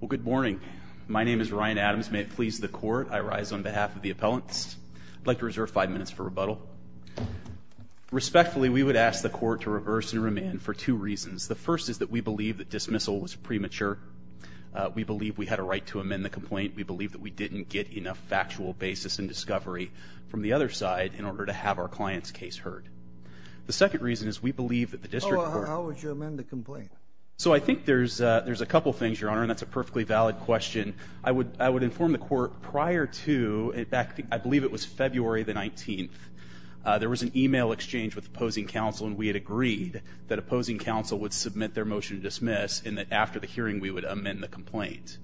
Well, good morning. My name is Ryan Adams. May it please the court, I rise on behalf of the appellants. I'd like to reserve five minutes for rebuttal. Respectfully, we would ask the court to reverse and remand for two reasons. The first is that we believe that dismissal was premature. We believe we had a right to amend the complaint. We believe that we didn't get enough factual basis and discovery from the other side in order to have our client's case heard. The second reason is we believe that the district court... How would you amend the complaint? So I think there's a couple things, Your Honor, and that's a perfectly valid question. I would inform the court prior to, in fact, I believe it was February the 19th, there was an email exchange with opposing counsel and we had agreed that opposing counsel would submit their motion to dismiss and that after the hearing we would amend the complaint.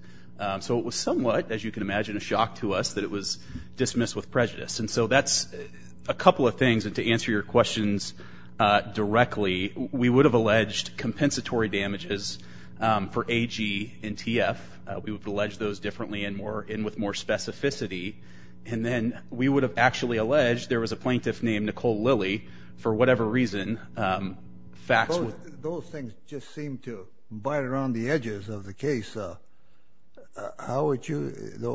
So it was somewhat, as you can imagine, a shock to us that it was dismissed with prejudice. And so that's a couple of things. And to answer your questions directly, we would have alleged compensatory damages for AG and TF. We would have alleged those differently and more in with more specificity. And then we would have actually alleged there was a plaintiff named Nicole Lilly for whatever reason. Those things just seem to bite around the edges of the case. How would you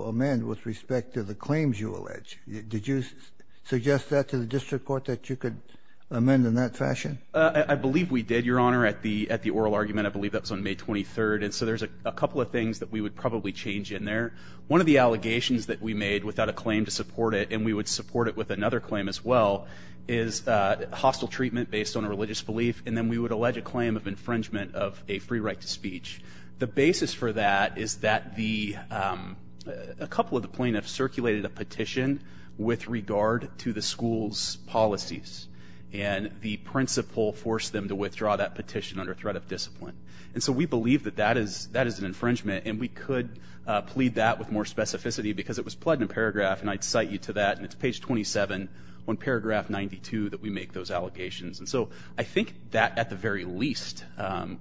amend with respect to the claims you allege? Did you suggest that to the district court that you could amend in that fashion? I believe we did, Your Honor, at the at the oral argument. I believe that was on May 23rd. And so there's a couple of things that we would probably change in there. One of the allegations that we made without a claim to support it, and we would support it with another claim as well, is hostile treatment based on a religious belief. And then we would allege a claim of infringement of a free right to speech. The basis for that is that a couple of the plaintiffs circulated a petition with regard to the school's policies. And the principal forced them to withdraw that petition under threat of discipline. And so we believe that that is that is an infringement. And we could plead that with more specificity because it was plugged in a paragraph. And I'd cite you to that. And it's page 27 on paragraph 92 that we make those allegations. And so I think that at the very least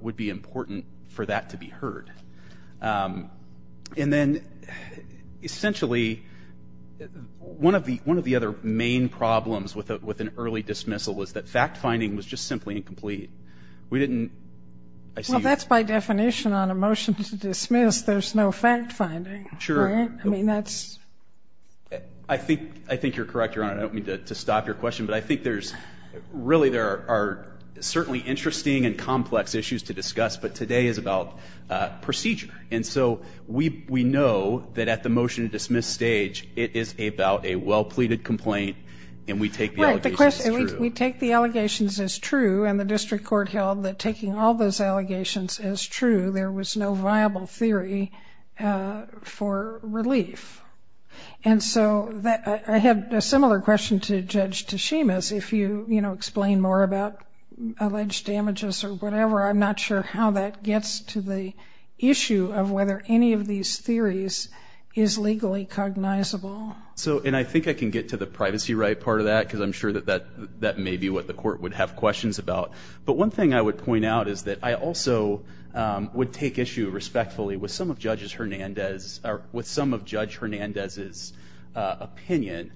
would be important for that to be heard. And then essentially one of the one of the other main problems with an early dismissal is that fact-finding was just simply incomplete. We didn't. Well that's by definition on a motion to dismiss there's no fact-finding. Sure. I mean that's. I think I think you're correct Your Honor. I don't mean to stop your question. But I think there's really there are certainly interesting and complex issues to discuss. But today is about procedure. And so we we know that at the motion to dismiss stage it is about a well-pleaded complaint. And we take the allegations as true. And the district court held that taking all those allegations as true there was no viable theory for relief. And so that I had a similar question to Judge Tashima's. If you you know explain more about alleged damages or whatever. I'm not sure how that gets to the issue of whether any of these theories is legally cognizable. So and I think I can get to the privacy right part of that. Because I'm sure that that that may be what the court would have questions about. But one thing I would point out is that I also would take issue respectfully with some of Judges Hernandez or with some of Judge Hernandez's opinion.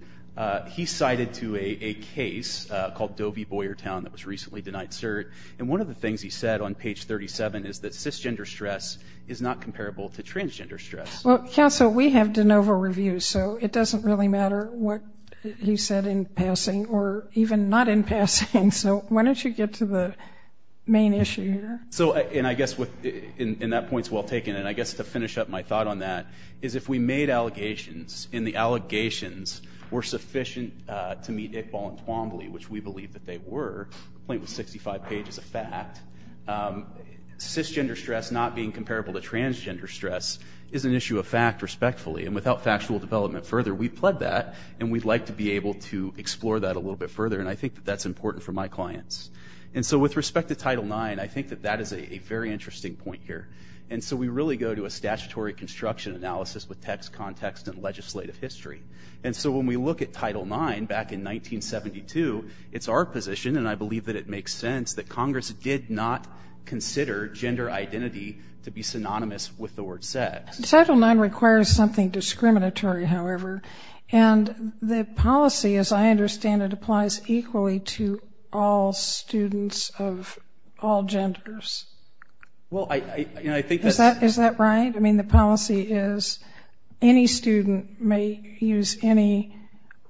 He cited to a case called Dovey Boyertown that was recently denied cert. And one of the things he said on page 37 is that cisgender stress is not comparable to transgender stress. Well counsel we have over review. So it doesn't really matter what he said in passing or even not in passing. So why don't you get to the main issue here. So and I guess with in that points well taken. And I guess to finish up my thought on that is if we made allegations in the allegations were sufficient to meet Iqbal and Twombly which we believe that they were. The point was 65 pages of fact. Cisgender stress not being comparable to transgender stress is an issue of fact respectfully. And without factual development further we pled that. And we'd like to be able to explore that a little bit further. And I think that that's important for my clients. And so with respect to Title IX I think that that is a very interesting point here. And so we really go to a statutory construction analysis with text context and legislative history. And so when we look at Title IX back in 1972 it's our position and I believe that it makes sense that Congress did not consider gender identity to be synonymous with the word sex. Title IX requires something discriminatory however. And the policy as I understand it applies equally to all students of all genders. Well I think is that is that right? I mean the policy is any student may use any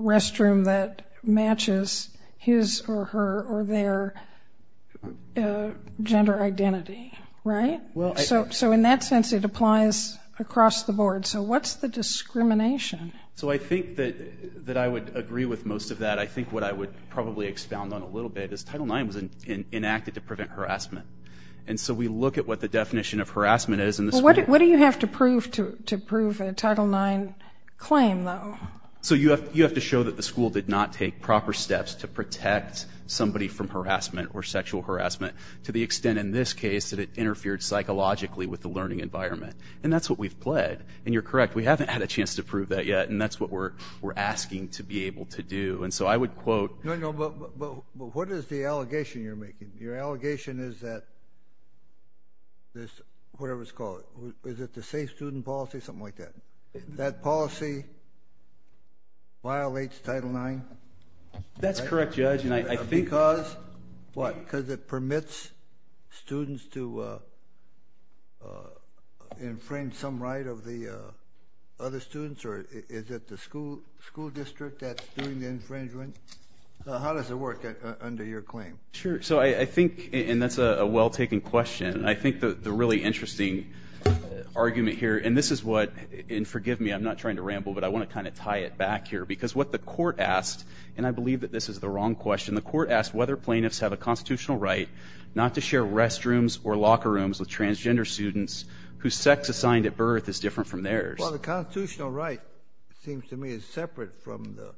restroom that matches his or her or their gender identity. Right? Well so in that sense it applies across the board. So what's the discrimination? So I think that that I would agree with most of that. I think what I would probably expound on a little bit is Title IX was enacted to prevent harassment. And so we look at what the definition of harassment is in the school. What do you have to prove to prove a Title IX claim though? So you have to show that the school did not take proper steps to protect somebody from harassment or sexual harassment to the extent in this case that it interfered psychologically with the learning environment. And that's what we've pled. And you're correct we haven't had a chance to prove that yet and that's what we're we're asking to be able to do. And so I would quote. No no but what is the allegation you're making? Your allegation is that this whatever it's called. Is it the safe student policy? Something like that. That policy violates Title IX? That's correct judge and I think. Because what? Because it permits students to infringe some right of the other students? Or is it the school school district that's doing the infringement? How does it work under your claim? Sure so I think and that's a well-taken question. I think that the really interesting argument here and this is what and forgive me I'm not trying to ramble but I want to kind of tie it back here. Because what the court asked and I have a constitutional right not to share restrooms or locker rooms with transgender students whose sex assigned at birth is different from theirs. Well the constitutional right seems to me is separate from the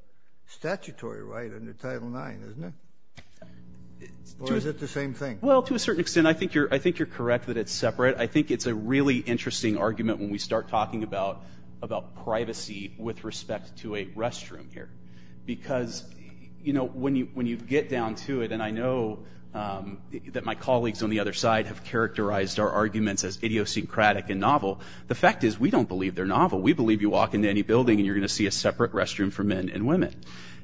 statutory right under Title IX isn't it? Or is it the same thing? Well to a certain extent I think you're I think you're correct that it's separate. I think it's a really interesting argument when we start talking about about privacy with respect to a restroom here. Because you know when you when you get down to it and I know that my colleagues on the other side have characterized our arguments as idiosyncratic and novel. The fact is we don't believe they're novel. We believe you walk into any building and you're gonna see a separate restroom for men and women.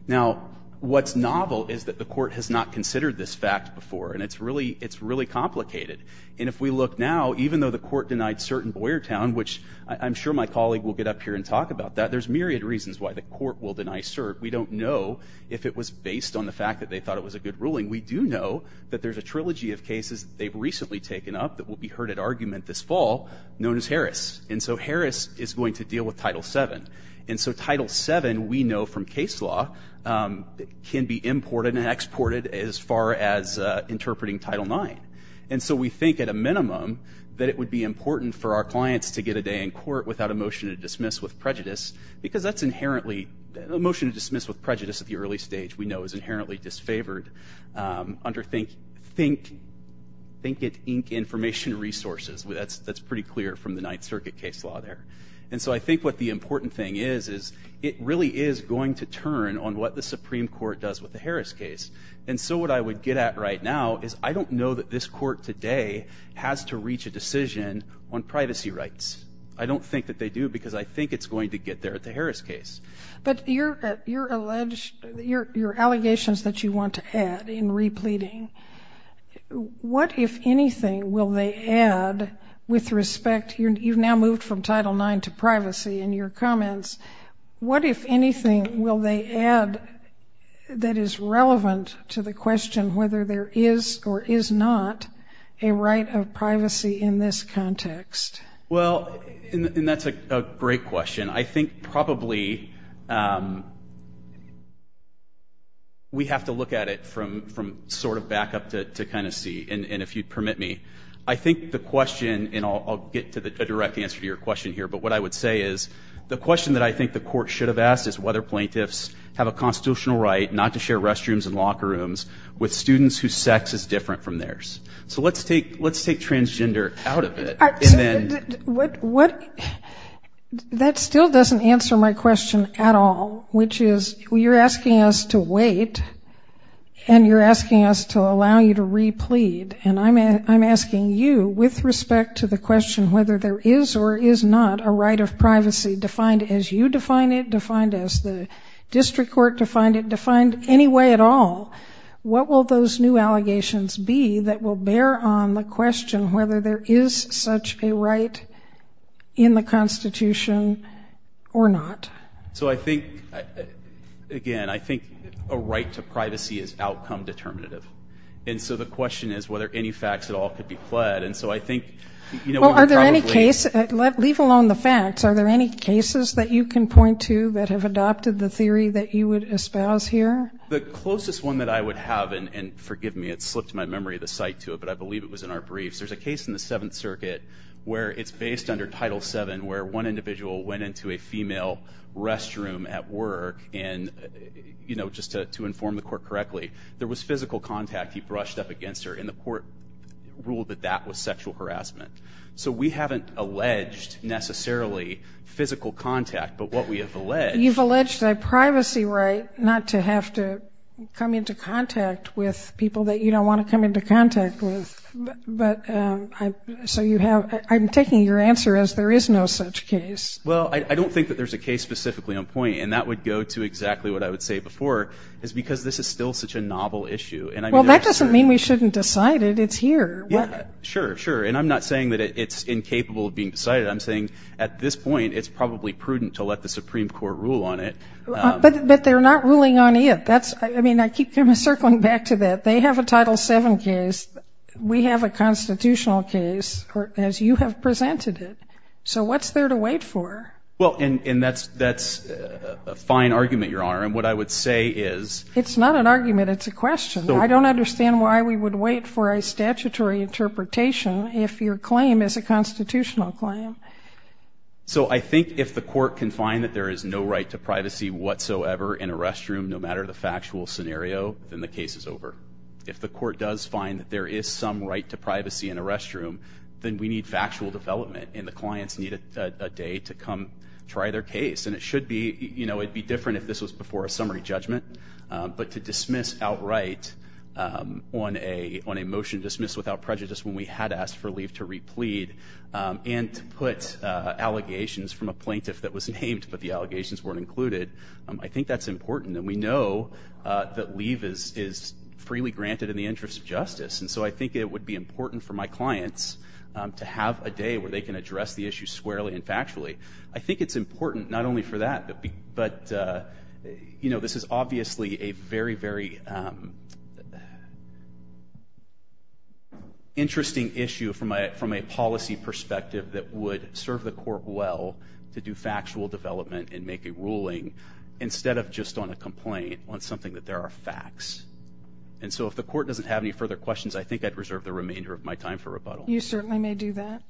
Now what's novel is that the court has not considered this fact before and it's really it's really complicated. And if we look now even though the court denied certain Boyertown which I'm sure my colleague will get up here and talk about that. There's myriad reasons why the court will deny cert. We don't know if it was based on the fact that they thought it was a good ruling. We do know that there's a trilogy of cases they've recently taken up that will be heard at argument this fall known as Harris. And so Harris is going to deal with Title VII. And so Title VII we know from case law can be imported and exported as far as interpreting Title IX. And so we think at a minimum that it would be important for our clients to get a day in court without a motion to dismiss with prejudice. Because that's inherently a motion to dismiss with prejudice at the early stage we know is inherently disfavored under think think think it ink information resources. Well that's that's pretty clear from the Ninth Circuit case law there. And so I think what the important thing is is it really is going to turn on what the Supreme Court does with the Harris case. And so what I would get at right now is I don't know that this court today has to reach a decision on privacy rights. I don't think that they do because I think it's going to get there at the Harris case. But you're you're alleged your allegations that you want to add in repleting. What if anything will they add with respect you've now moved from Title IX to privacy in your comments. What if anything will they add that is not a right of privacy in this context. Well and that's a great question. I think probably we have to look at it from from sort of back up to kind of see and if you'd permit me. I think the question and I'll get to the direct answer to your question here. But what I would say is the question that I think the court should have asked is whether plaintiffs have a constitutional right not to share So let's take let's take transgender out of it. What what that still doesn't answer my question at all. Which is you're asking us to wait and you're asking us to allow you to replete. And I'm asking you with respect to the question whether there is or is not a right of privacy defined as you define it. Defined as the district court defined it. Defined any way at all. What will those new allegations be that will bear on the question whether there is such a right in the Constitution or not. So I think again I think a right to privacy is outcome determinative. And so the question is whether any facts at all could be pled. And so I think you know are there any case let leave alone the facts. Are there any cases that you can point to that have adopted the theory that you would espouse here? The closest one that I would have and forgive me it slipped my memory of the site to it but I believe it was in our briefs. There's a case in the Seventh Circuit where it's based under Title VII where one individual went into a female restroom at work and you know just to inform the court correctly there was physical contact he brushed up against her in the court ruled that that was sexual harassment. So we haven't alleged necessarily physical contact but what we have alleged. You've alleged a privacy right not to have to come into contact with people that you don't want to come into contact with. But so you have I'm taking your answer as there is no such case. Well I don't think that there's a case specifically on point and that would go to exactly what I would say before is because this is still such a novel issue. And well that doesn't mean we shouldn't decide it it's here. Yeah I mean I keep circling back to that. They have a Title VII case. We have a constitutional case as you have presented it. So what's there to wait for? Well and that's a fine argument your honor and what I would say is. It's not an argument it's a question. I don't understand why we would wait for a So I think if the court can find that there is no right to privacy whatsoever in a restroom no matter the factual scenario then the case is over. If the court does find that there is some right to privacy in a restroom then we need factual development and the clients need a day to come try their case. And it should be you know it'd be different if this was before a summary judgment. But to dismiss outright on a on a motion dismissed without prejudice when we had asked for leave to replead and put allegations from a plaintiff that was named but the allegations weren't included. I think that's important and we know that leave is is freely granted in the interest of justice. And so I think it would be important for my clients to have a day where they can address the issue squarely and factually. I think it's important not only for that but you know this is obviously a very very interesting issue from a from a policy perspective that would serve the court well to do factual development and make a ruling instead of just on a complaint on something that there are facts. And so if the court doesn't have any further questions I think I'd reserve the remainder of my time for rebuttal. You certainly may do that.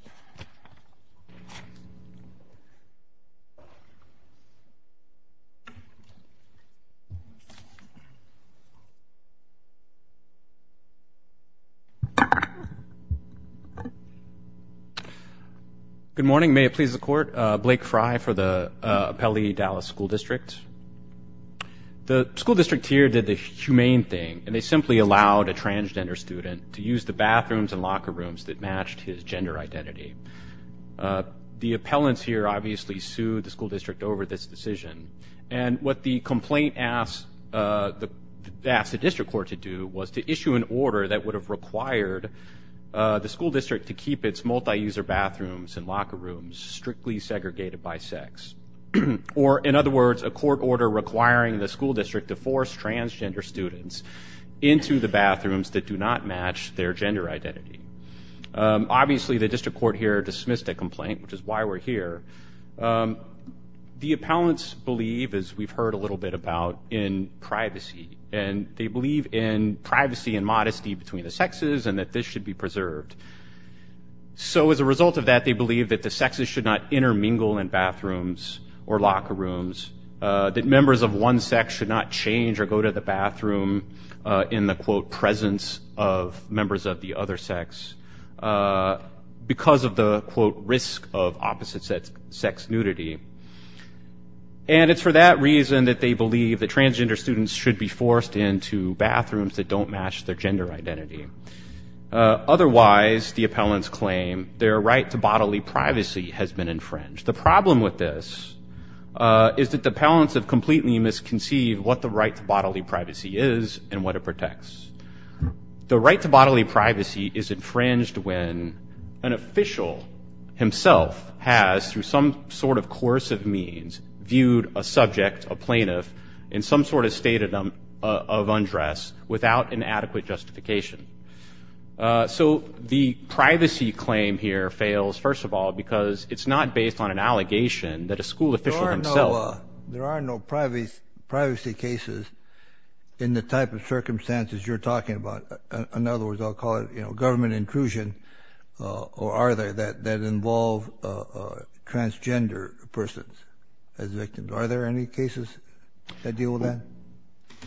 Good morning. May it please the court. Blake Fry for the Appellee Dallas School District. The school district here did the humane thing and they simply allowed a transgender student to use the bathrooms and locker rooms that matched his gender identity. The appellants here obviously sued the school district over this decision and what the complaint asked the asked the district court to do was to issue an order that would have required the school district to keep its multi-user bathrooms and locker rooms strictly segregated by sex. Or in other words a court order requiring the school district to force transgender students into the bathrooms that do not match their gender identity. Obviously the district court here dismissed a complaint which is why we're here. The appellants believe as we've heard a little bit about in privacy and they believe in privacy and modesty between the sexes and that this should be preserved. So as a result of that they believe that the sexes should not intermingle in bathrooms or locker rooms, that members of one sex should not change or go to the bathroom in the quote presence of members of the other sex because of the quote risk of opposite sex nudity. And it's for that reason that they believe that transgender students should be forced into bathrooms that don't match their gender identity. Otherwise the appellants claim their right to bodily privacy has been infringed. The problem with this is that the appellants have completely misconceived what the right to bodily privacy is infringed when an official himself has through some sort of course of means viewed a subject, a plaintiff, in some sort of state of undress without an adequate justification. So the privacy claim here fails first of all because it's not based on an allegation that a school official himself. There are no privacy cases in the type of circumstances you're talking about. In government intrusion or are there that involve transgender persons as victims. Are there any cases that deal with that?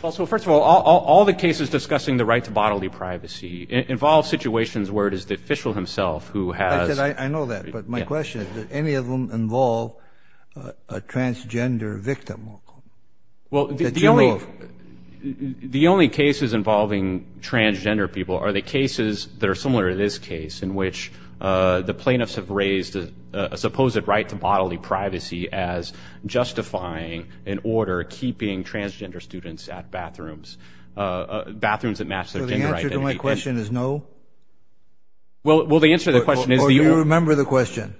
Well so first of all all the cases discussing the right to bodily privacy involve situations where it is the official himself who has... I know that but my question is that any of them involve a transgender victim? Well the only cases involving transgender people are the cases that are similar to this case in which the plaintiffs have raised a supposed right to bodily privacy as justifying an order keeping transgender students at bathrooms. Bathrooms that match their gender identity. So the answer to my question is no? Well the answer to the question is... Or do you remember the question?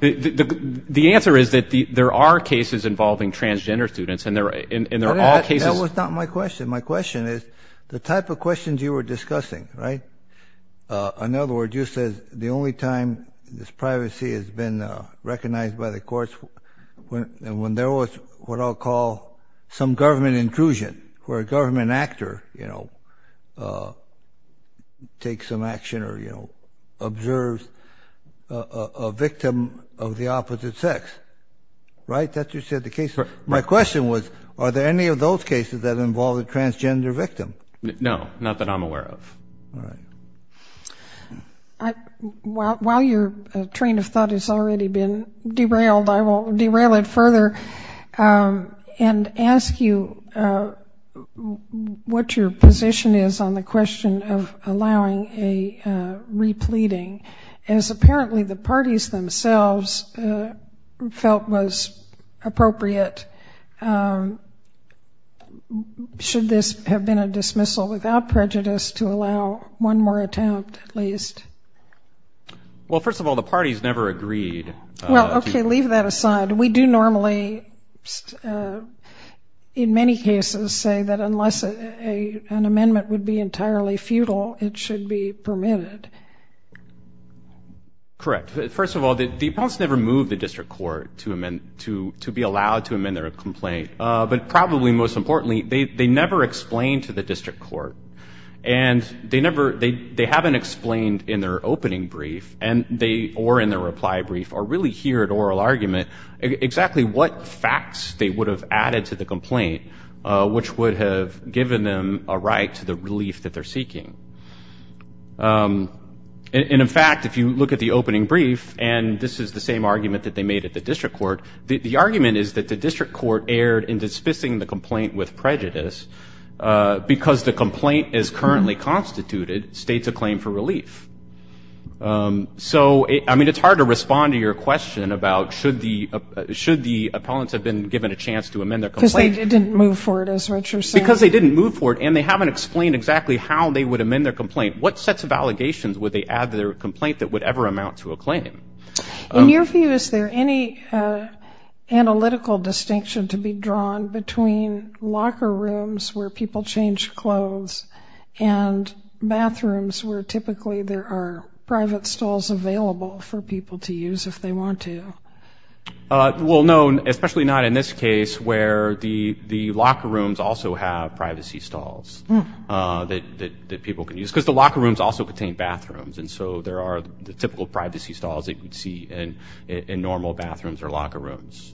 The answer is that there are cases involving transgender students and there are all cases... That was not my question. My question is the type of questions you were discussing, right? In other words you said the only time this privacy has been recognized by the courts when there was what I'll call some government intrusion where a government actor you know takes some action or you know observes a victim of the opposite sex, right? That's you said the case. My question was are there any of those cases that involve a transgender victim? No, not that I'm aware of. While your train of thought has already been derailed I will derail it further and ask you what your position is on the question of allowing a repleting as apparently the parties themselves felt was appropriate. Should this have been a dismissal without prejudice to allow one more attempt at least? Well first of all the parties never agreed. Well okay leave that aside. We do normally in many cases say that unless an amendment would be entirely futile it should be permitted. Correct. First of all the opponents never moved the district court to amend to to be allowed to amend their complaint but probably most importantly they never explained to the district court and they never they they haven't explained in their opening brief and they or in their reply brief or really here at oral argument exactly what facts they would have added to the complaint which would have given them a right to the relief that they're seeking. And in fact if you look at the opening brief and this is the same argument that they made at the district court the argument is that the district court erred in dismissing the complaint with prejudice because the complaint is currently constituted states a claim for relief. So I mean it's hard to respond to your question about should the should the opponents have been given a chance to amend their complaint. Because they didn't move for it as Richard said. Because they didn't move for it and they haven't explained exactly how they would amend their complaint what sets of allegations would they add to their complaint that would ever amount to a claim? In your view is there any analytical distinction to be drawn between locker rooms where people change clothes and bathrooms where typically there are private stalls available for people to use if they want to. Well no especially not in this case where the privacy stalls that people can use because the locker rooms also contain bathrooms and so there are the typical privacy stalls that you would see and in normal bathrooms or locker rooms.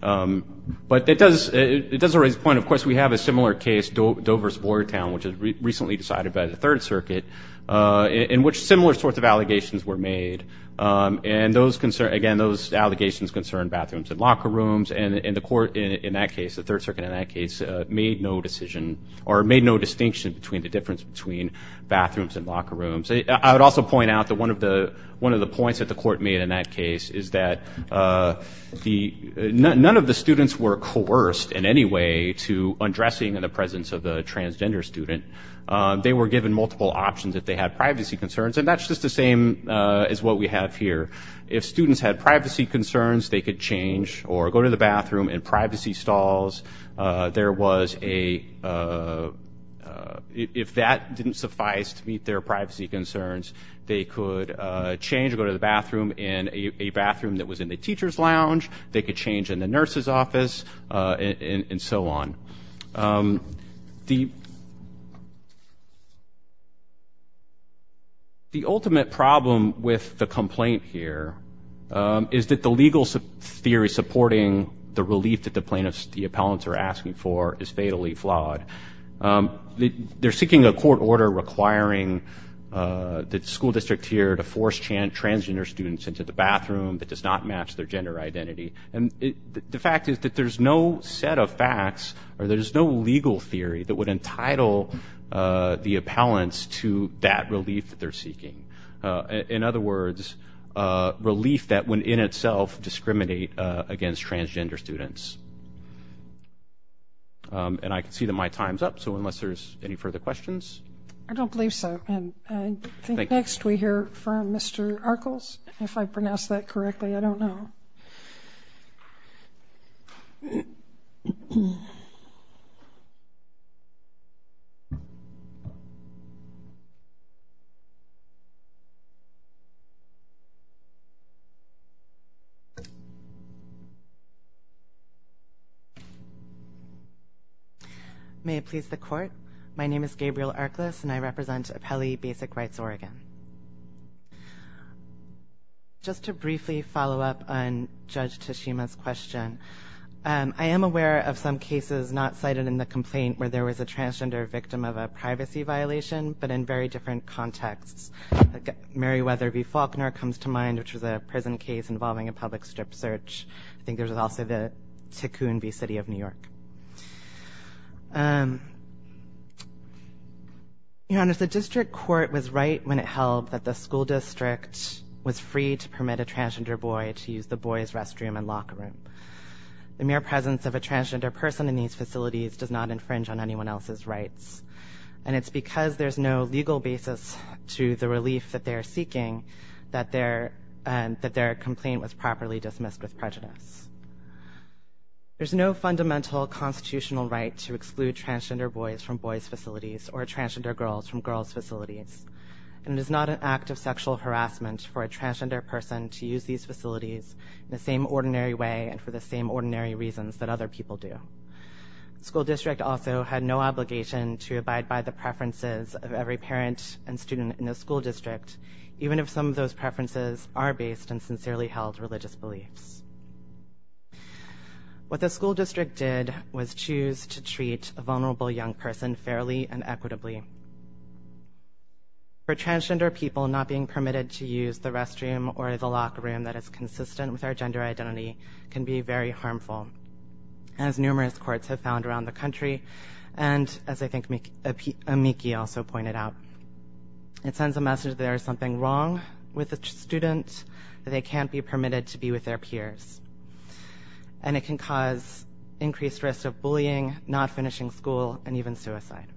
But it does it does raise a point of course we have a similar case Dover's Boyertown which is recently decided by the Third Circuit in which similar sorts of allegations were made and those concern again those allegations concern bathrooms and locker rooms and in the decision or made no distinction between the difference between bathrooms and locker rooms. I would also point out that one of the one of the points that the court made in that case is that the none of the students were coerced in any way to undressing in the presence of the transgender student. They were given multiple options if they had privacy concerns and that's just the same as what we have here. If students had privacy concerns they could change or go to the bathroom in privacy stalls. There was a if that didn't suffice to meet their privacy concerns they could change go to the bathroom in a bathroom that was in the teacher's lounge. They could change in the nurse's office and so on. The the ultimate problem with the complaint here is that the legal theory supporting the relief that the plaintiffs the appellants are asking for is fatally flawed. They're seeking a court order requiring the school district here to force transgender students into the bathroom that does not match their gender identity and the fact is that there's no set of facts or there's no legal theory that would entitle the appellants to that relief that they're seeking. In other words relief that when in itself discriminate against transgender students. And I can see that my time's up so unless there's any further questions. I don't believe so and I think next we hear from Mr. Arkels if I pronounce that correctly I don't know. May it please the court my name is Gabriel Arkelis and I represent Appellee Basic Rights Oregon. Just to briefly follow up on Judge Tashima's question and I am aware of some cases not cited in the complaint where there was a transgender victim of a privacy violation but in very different contexts. Meriwether v. Faulkner comes to mind which was a prison case involving a public strip search. I think there's also the Ticoon v. City of New York. Your Honor, the district court was right when it held that the school district was free to permit a transgender boy to use the boys restroom and locker room. The mere presence of a transgender person in these facilities does not infringe on anyone else's rights and it's because there's no legal basis to the relief that they are seeking that their complaint was properly dismissed with prejudice. There's no fundamental constitutional right to exclude transgender boys from boys facilities or transgender girls from girls facilities and it is not an act of sexual harassment for a transgender person to use these facilities the same ordinary way and for the same ordinary reasons that other people do. School district also had no obligation to abide by the even if some of those preferences are based and sincerely held religious beliefs. What the school district did was choose to treat a vulnerable young person fairly and equitably. For transgender people not being permitted to use the restroom or the locker room that is consistent with our gender identity can be very harmful as numerous courts have found around the country and as I think Miki also pointed out it sends a message there is something wrong with a student that they can't be permitted to be with their peers and it can cause increased risk of bullying not finishing school and even suicide.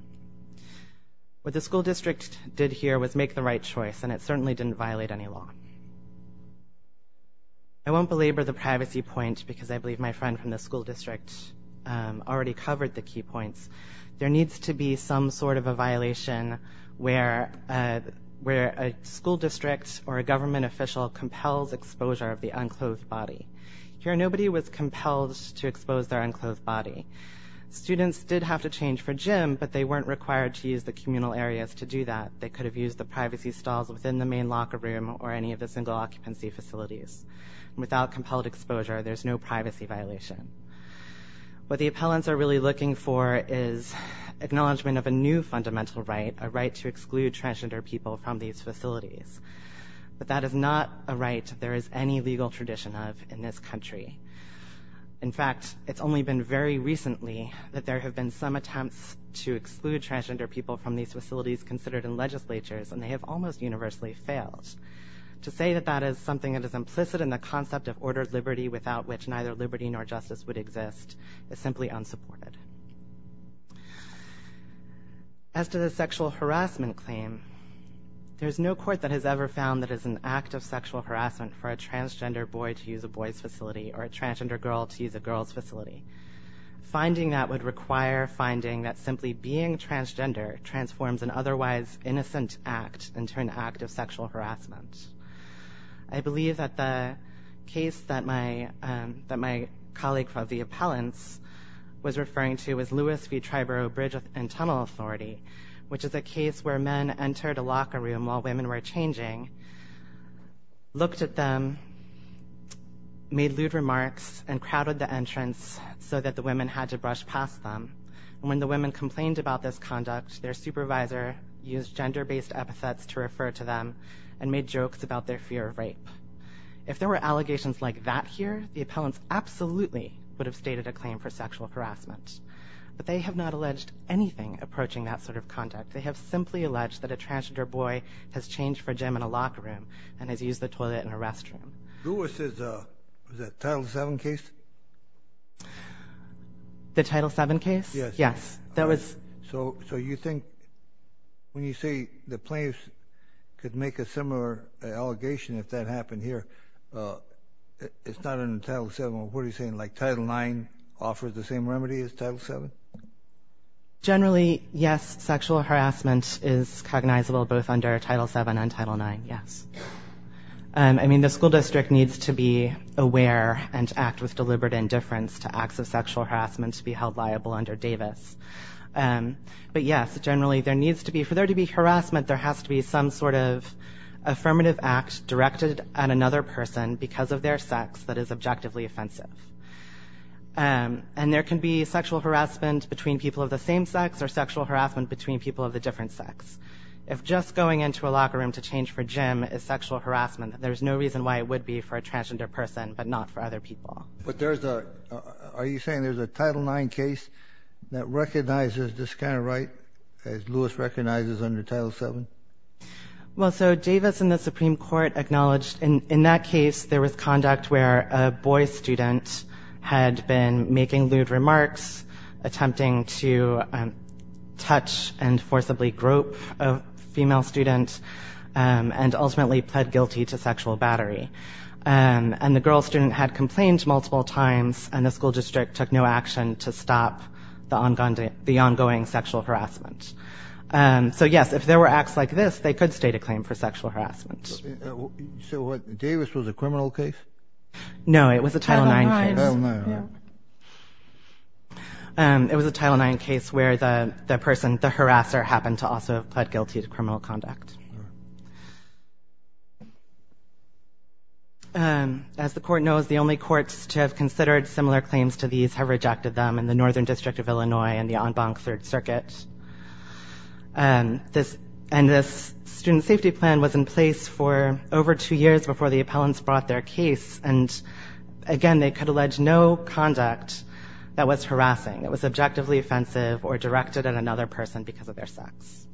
What the school district did here was make the right choice and it certainly didn't violate any law. I won't belabor the privacy point because I believe my needs to be some sort of a violation where where a school district or a government official compels exposure of the unclothed body. Here nobody was compelled to expose their unclothed body. Students did have to change for gym but they weren't required to use the communal areas to do that. They could have used the privacy stalls within the main locker room or any of the single occupancy facilities. Without compelled exposure there's no privacy violation. What the appellants are really looking for is acknowledgement of a new fundamental right, a right to exclude transgender people from these facilities. But that is not a right there is any legal tradition of in this country. In fact it's only been very recently that there have been some attempts to exclude transgender people from these facilities considered in legislatures and they have almost universally failed. To say that that is something that is implicit in the concept of ordered liberty without which neither liberty nor justice would exist is simply unsupported. As to the sexual harassment claim there's no court that has ever found that is an act of sexual harassment for a transgender boy to use a boy's facility or a transgender girl to use a girl's facility. Finding that would require finding that simply being transgender transforms an otherwise innocent act into an act of sexual harassment. I believe that the case that my colleague of the appellants was referring to was Lewis v. Triborough Bridge and Tunnel Authority which is a case where men entered a locker room while women were changing, looked at them, made lewd remarks and crowded the entrance so that the women had to brush past them. When the women complained about this conduct their supervisor used gender-based epithets to address it. In allegations like that here the appellants absolutely would have stated a claim for sexual harassment. But they have not alleged anything approaching that sort of conduct. They have simply alleged that a transgender boy has changed for a gym in a locker room and has used the toilet in a restroom. Lewis' Title 7 case? The Title 7 case? Yes. So you think when you say the it's not in the Title 7 what are you saying like Title 9 offers the same remedy as Title 7? Generally yes sexual harassment is cognizable both under Title 7 and Title 9 yes. I mean the school district needs to be aware and act with deliberate indifference to acts of sexual harassment to be held liable under Davis. But yes generally there needs to be for there to be harassment there has to be some sort of affirmative act directed at another person because of their sex that is objectively offensive. And there can be sexual harassment between people of the same sex or sexual harassment between people of the different sex. If just going into a locker room to change for gym is sexual harassment there's no reason why it would be for a transgender person but not for other people. But there's a are you saying there's a Title 9 case that Lewis recognizes under Title 7? Well so Davis in the Supreme Court acknowledged in in that case there was conduct where a boy student had been making lewd remarks attempting to touch and forcibly grope a female student and ultimately pled guilty to sexual battery. And the girl student had complained multiple times and the school district took no action to stop the ongoing sexual harassment. So yes if there were acts like this they could state a claim for sexual harassment. So what Davis was a criminal case? No it was a Title 9 case. And it was a Title 9 case where the the person the harasser happened to also have pled guilty to criminal conduct. And as the court knows the only courts to have considered similar claims to these have rejected them and the Northern District of Illinois and the Bonk Third Circuit. And this and this student safety plan was in place for over two years before the appellants brought their case and again they could allege no conduct that was harassing. It was objectively offensive or directed at another person because of their sex.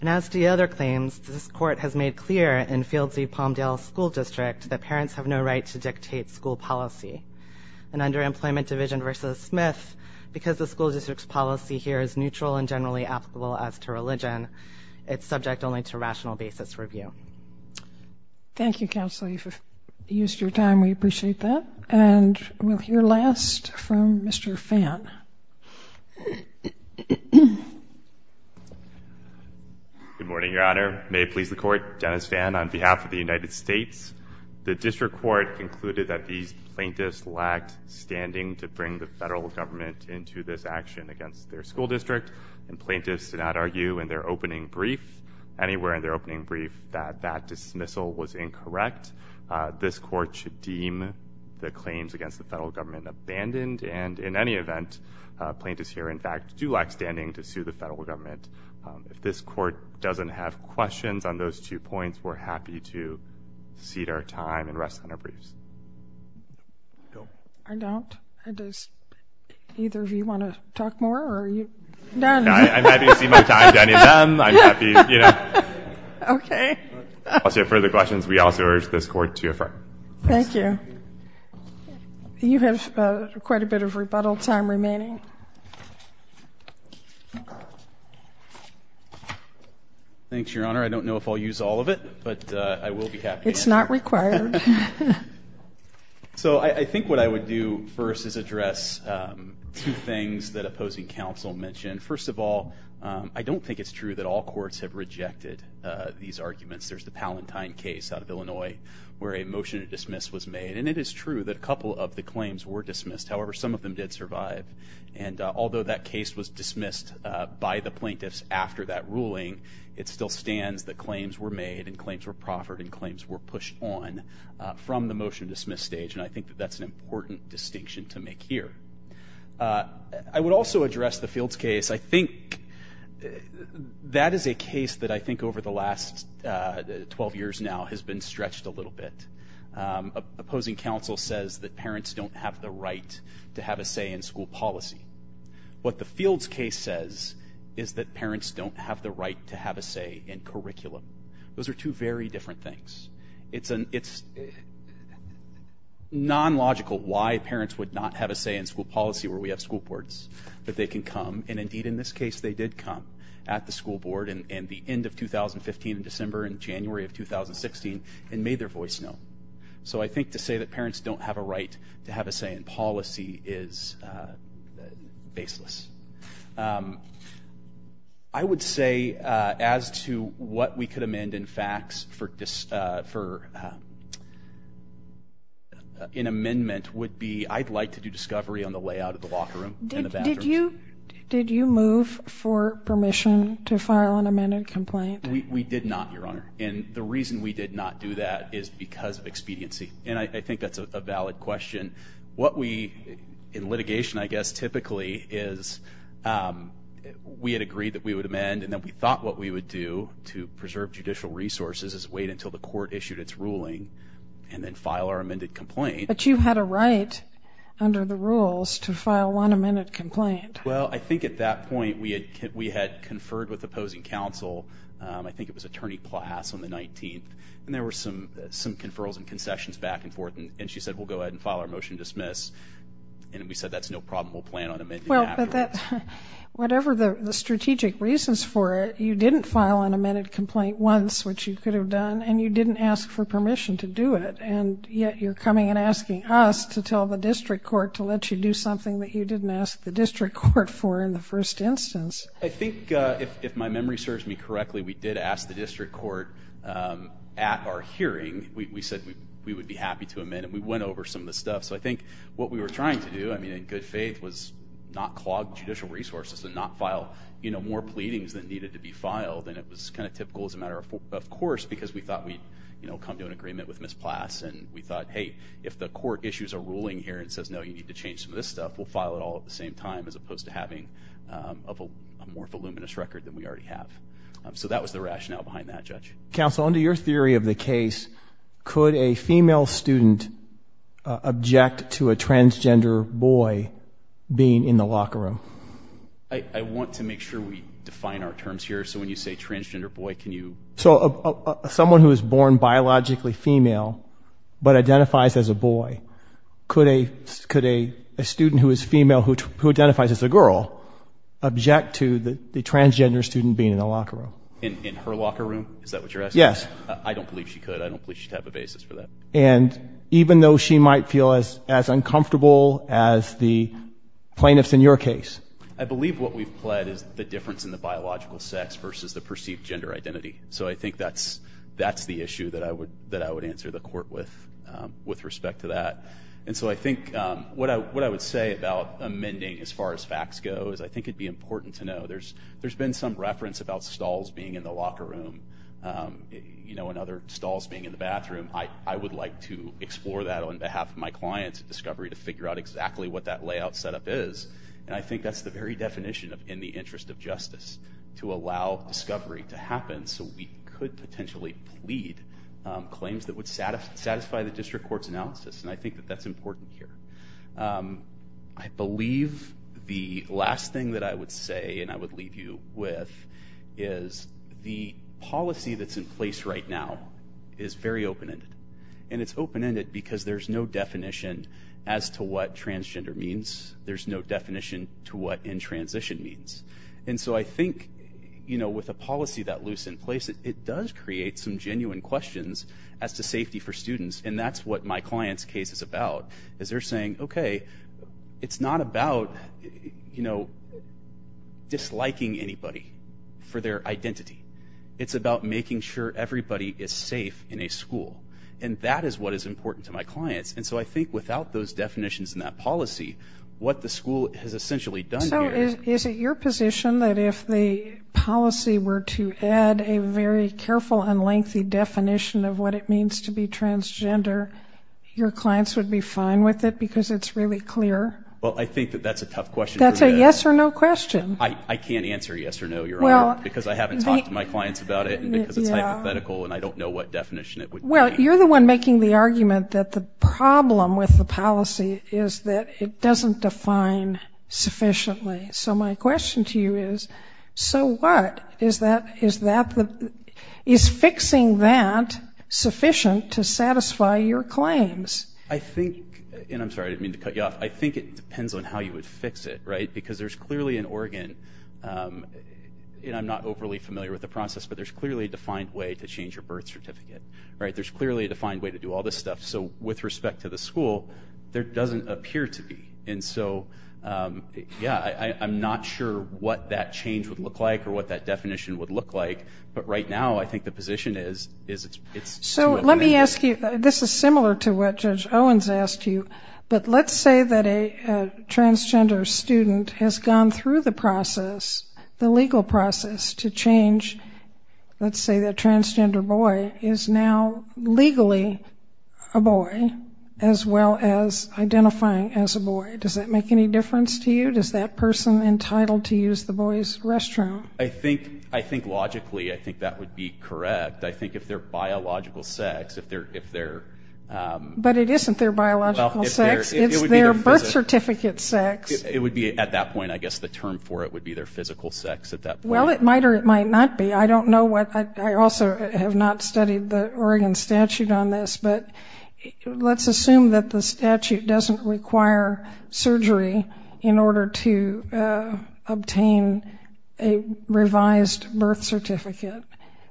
And as the other claims this court has made clear in Fields v. Palmdale school district that parents have no right to dictate school policy. And under Employment Division v. Smith because the school district's policy here is neutral and generally applicable as to religion it's subject only to rational basis review. Thank you counsel you've used your time we appreciate that. And we'll hear last from Mr. Fan. Good morning Your Honor. May it please the court Dennis Fan on behalf of the United States. The district court concluded that these plaintiffs lacked standing to bring the federal government into this action against their school district and plaintiffs do not argue in their opening brief anywhere in their opening brief that that dismissal was incorrect. This court should deem the claims against the federal government abandoned and in any event plaintiffs here in fact do lack standing to sue the federal government. If this court doesn't have questions on those two points we're happy to cede our time and rest on our briefs. I don't. Either of you want to talk more? I'm happy to cede my time to any of them. We also urge this court to affirm. Thank you. You have quite a bit of rebuttal time remaining. Thanks Your Honor I don't know if I'll use all of it but I will be happy. It's not required. So I think what I would do first is address two things that opposing counsel mentioned. First of all I don't think it's true that all courts have rejected these arguments. There's the Palantine case out of Illinois where a motion to dismiss was made and it is true that a couple of the and although that case was dismissed by the plaintiffs after that ruling it still stands that claims were made and claims were proffered and claims were pushed on from the motion to dismiss stage and I think that that's an important distinction to make here. I would also address the Fields case. I think that is a case that I think over the last 12 years now has been stretched a little bit. Opposing counsel says that parents don't have the right to have a say in school policy. What the Fields case says is that parents don't have the right to have a say in curriculum. Those are two very different things. It's a it's non-logical why parents would not have a say in school policy where we have school boards but they can come and indeed in this case they did come at the school board and in the end of 2015 in December and January of 2016 and made their voice known. So I think to say that parents don't have a right to have a say in policy is baseless. I would say as to what we could amend in facts for an amendment would be I'd like to do discovery on the layout of the locker room. Did you move for permission to file an amended complaint? We did not your honor and the reason we did not do that is because of expediency and I we in litigation I guess typically is we had agreed that we would amend and then we thought what we would do to preserve judicial resources is wait until the court issued its ruling and then file our amended complaint. But you had a right under the rules to file one amended complaint. Well I think at that point we had conferred with opposing counsel I think it was attorney class on the 19th and there were some some conferrals and concessions back and forth and she said we'll go ahead and file our motion dismiss and we said that's no problem we'll plan on amending it afterwards. Whatever the strategic reasons for it you didn't file an amended complaint once which you could have done and you didn't ask for permission to do it and yet you're coming and asking us to tell the district court to let you do something that you didn't ask the district court for in the first instance. I think if my memory serves me correctly we did ask the district court at our hearing we said we would be happy to amend and we went over some of the stuff so I think what we were trying to do I mean in good faith was not clog judicial resources and not file you know more pleadings that needed to be filed and it was kind of typical as a matter of course because we thought we you know come to an agreement with Miss Plass and we thought hey if the court issues a ruling here and says no you need to change some of this stuff we'll file it all at the same time as opposed to having a more voluminous record than we already have. So that was the rationale behind that judge. Counsel under your theory of the case could a female student object to a transgender boy being in the locker room? I want to make sure we define our terms here so when you say transgender boy can you... So someone who is born biologically female but identifies as a boy could a could a student who is transgender student being in a locker room? In her locker room? Is that what you're asking? Yes. I don't believe she could I don't believe she'd have a basis for that. And even though she might feel as as uncomfortable as the plaintiffs in your case? I believe what we've pled is the difference in the biological sex versus the perceived gender identity so I think that's that's the issue that I would that I would answer the court with with respect to that and so I think what I what I would say about amending as far as facts go is I think it'd be important to know there's there's been some reference about stalls being in the locker room you know and other stalls being in the bathroom I I would like to explore that on behalf of my clients at Discovery to figure out exactly what that layout setup is and I think that's the very definition of in the interest of justice to allow Discovery to happen so we could potentially plead claims that would satisfy the district courts analysis and I think that that's important here. I believe the last thing that I would say and I would leave you with is the policy that's in place right now is very open-ended and it's open-ended because there's no definition as to what transgender means there's no definition to what in transition means and so I think you know with a policy that loose in place it does create some genuine questions as to safety for as they're saying okay it's not about you know disliking anybody for their identity it's about making sure everybody is safe in a school and that is what is important to my clients and so I think without those definitions in that policy what the school has essentially done. So is it your position that if the policy were to add a very careful and lengthy definition of what it means to be transgender your clients would be fine with it because it's really clear? Well I think that that's a tough question. That's a yes or no question. I can't answer yes or no your honor because I haven't talked to my clients about it because it's hypothetical and I don't know what definition it would be. Well you're the one making the argument that the problem with the policy is that it doesn't define sufficiently so my question to you is so what is that is fixing that sufficient to satisfy your claims? I think and I'm sorry I didn't mean to cut you off I think it depends on how you would fix it right because there's clearly an organ and I'm not overly familiar with the process but there's clearly a defined way to change your birth certificate right there's clearly a defined way to do all this stuff so with respect to the school there doesn't appear to be and so yeah I'm not sure what that change would look like or what that definition would look like but right now I think the position is it's so let me ask you this is similar to what Judge Owens asked you but let's say that a transgender student has gone through the process the legal process to change let's say that transgender boy is now legally a boy as well as identifying as a boy does that make any difference to you does that entitled to use the boys restroom? I think I think logically I think that would be correct I think if they're biological sex if they're if they're but it isn't their biological sex it's their birth certificate sex it would be at that point I guess the term for it would be their physical sex at that well it might or it might not be I don't know what I also have not studied the Oregon statute on this but let's assume that the statute doesn't require surgery in to obtain a revised birth certificate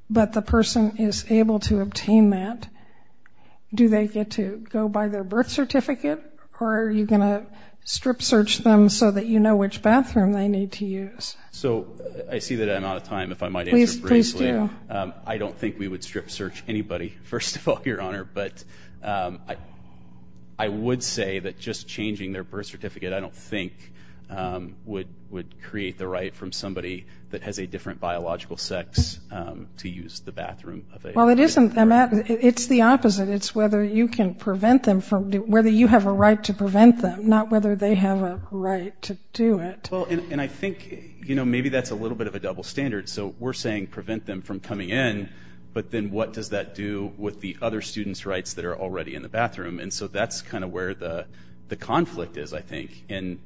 but the person is able to obtain that do they get to go by their birth certificate or are you gonna strip search them so that you know which bathroom they need to use? So I see that I'm out of time if I might I don't think we would strip search anybody first of all your honor but I would say that just changing their birth certificate I don't think would would create the right from somebody that has a different biological sex to use the bathroom well it isn't it's the opposite it's whether you can prevent them from whether you have a right to prevent them not whether they have a right to do it well and I think you know maybe that's a little bit of a double standard so we're saying prevent them from coming in but then what does that do with the other students rights that are already in the bathroom and so that's kind of where the the conflict is I think and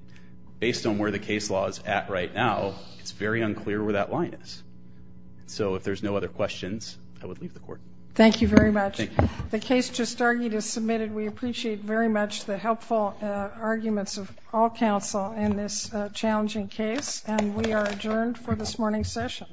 based on where the case law is at right now it's very unclear where that line is so if there's no other questions I would leave the court. Thank you very much the case just argued is submitted we appreciate very much the helpful arguments of all counsel in this challenging case and we are adjourned for this morning's session.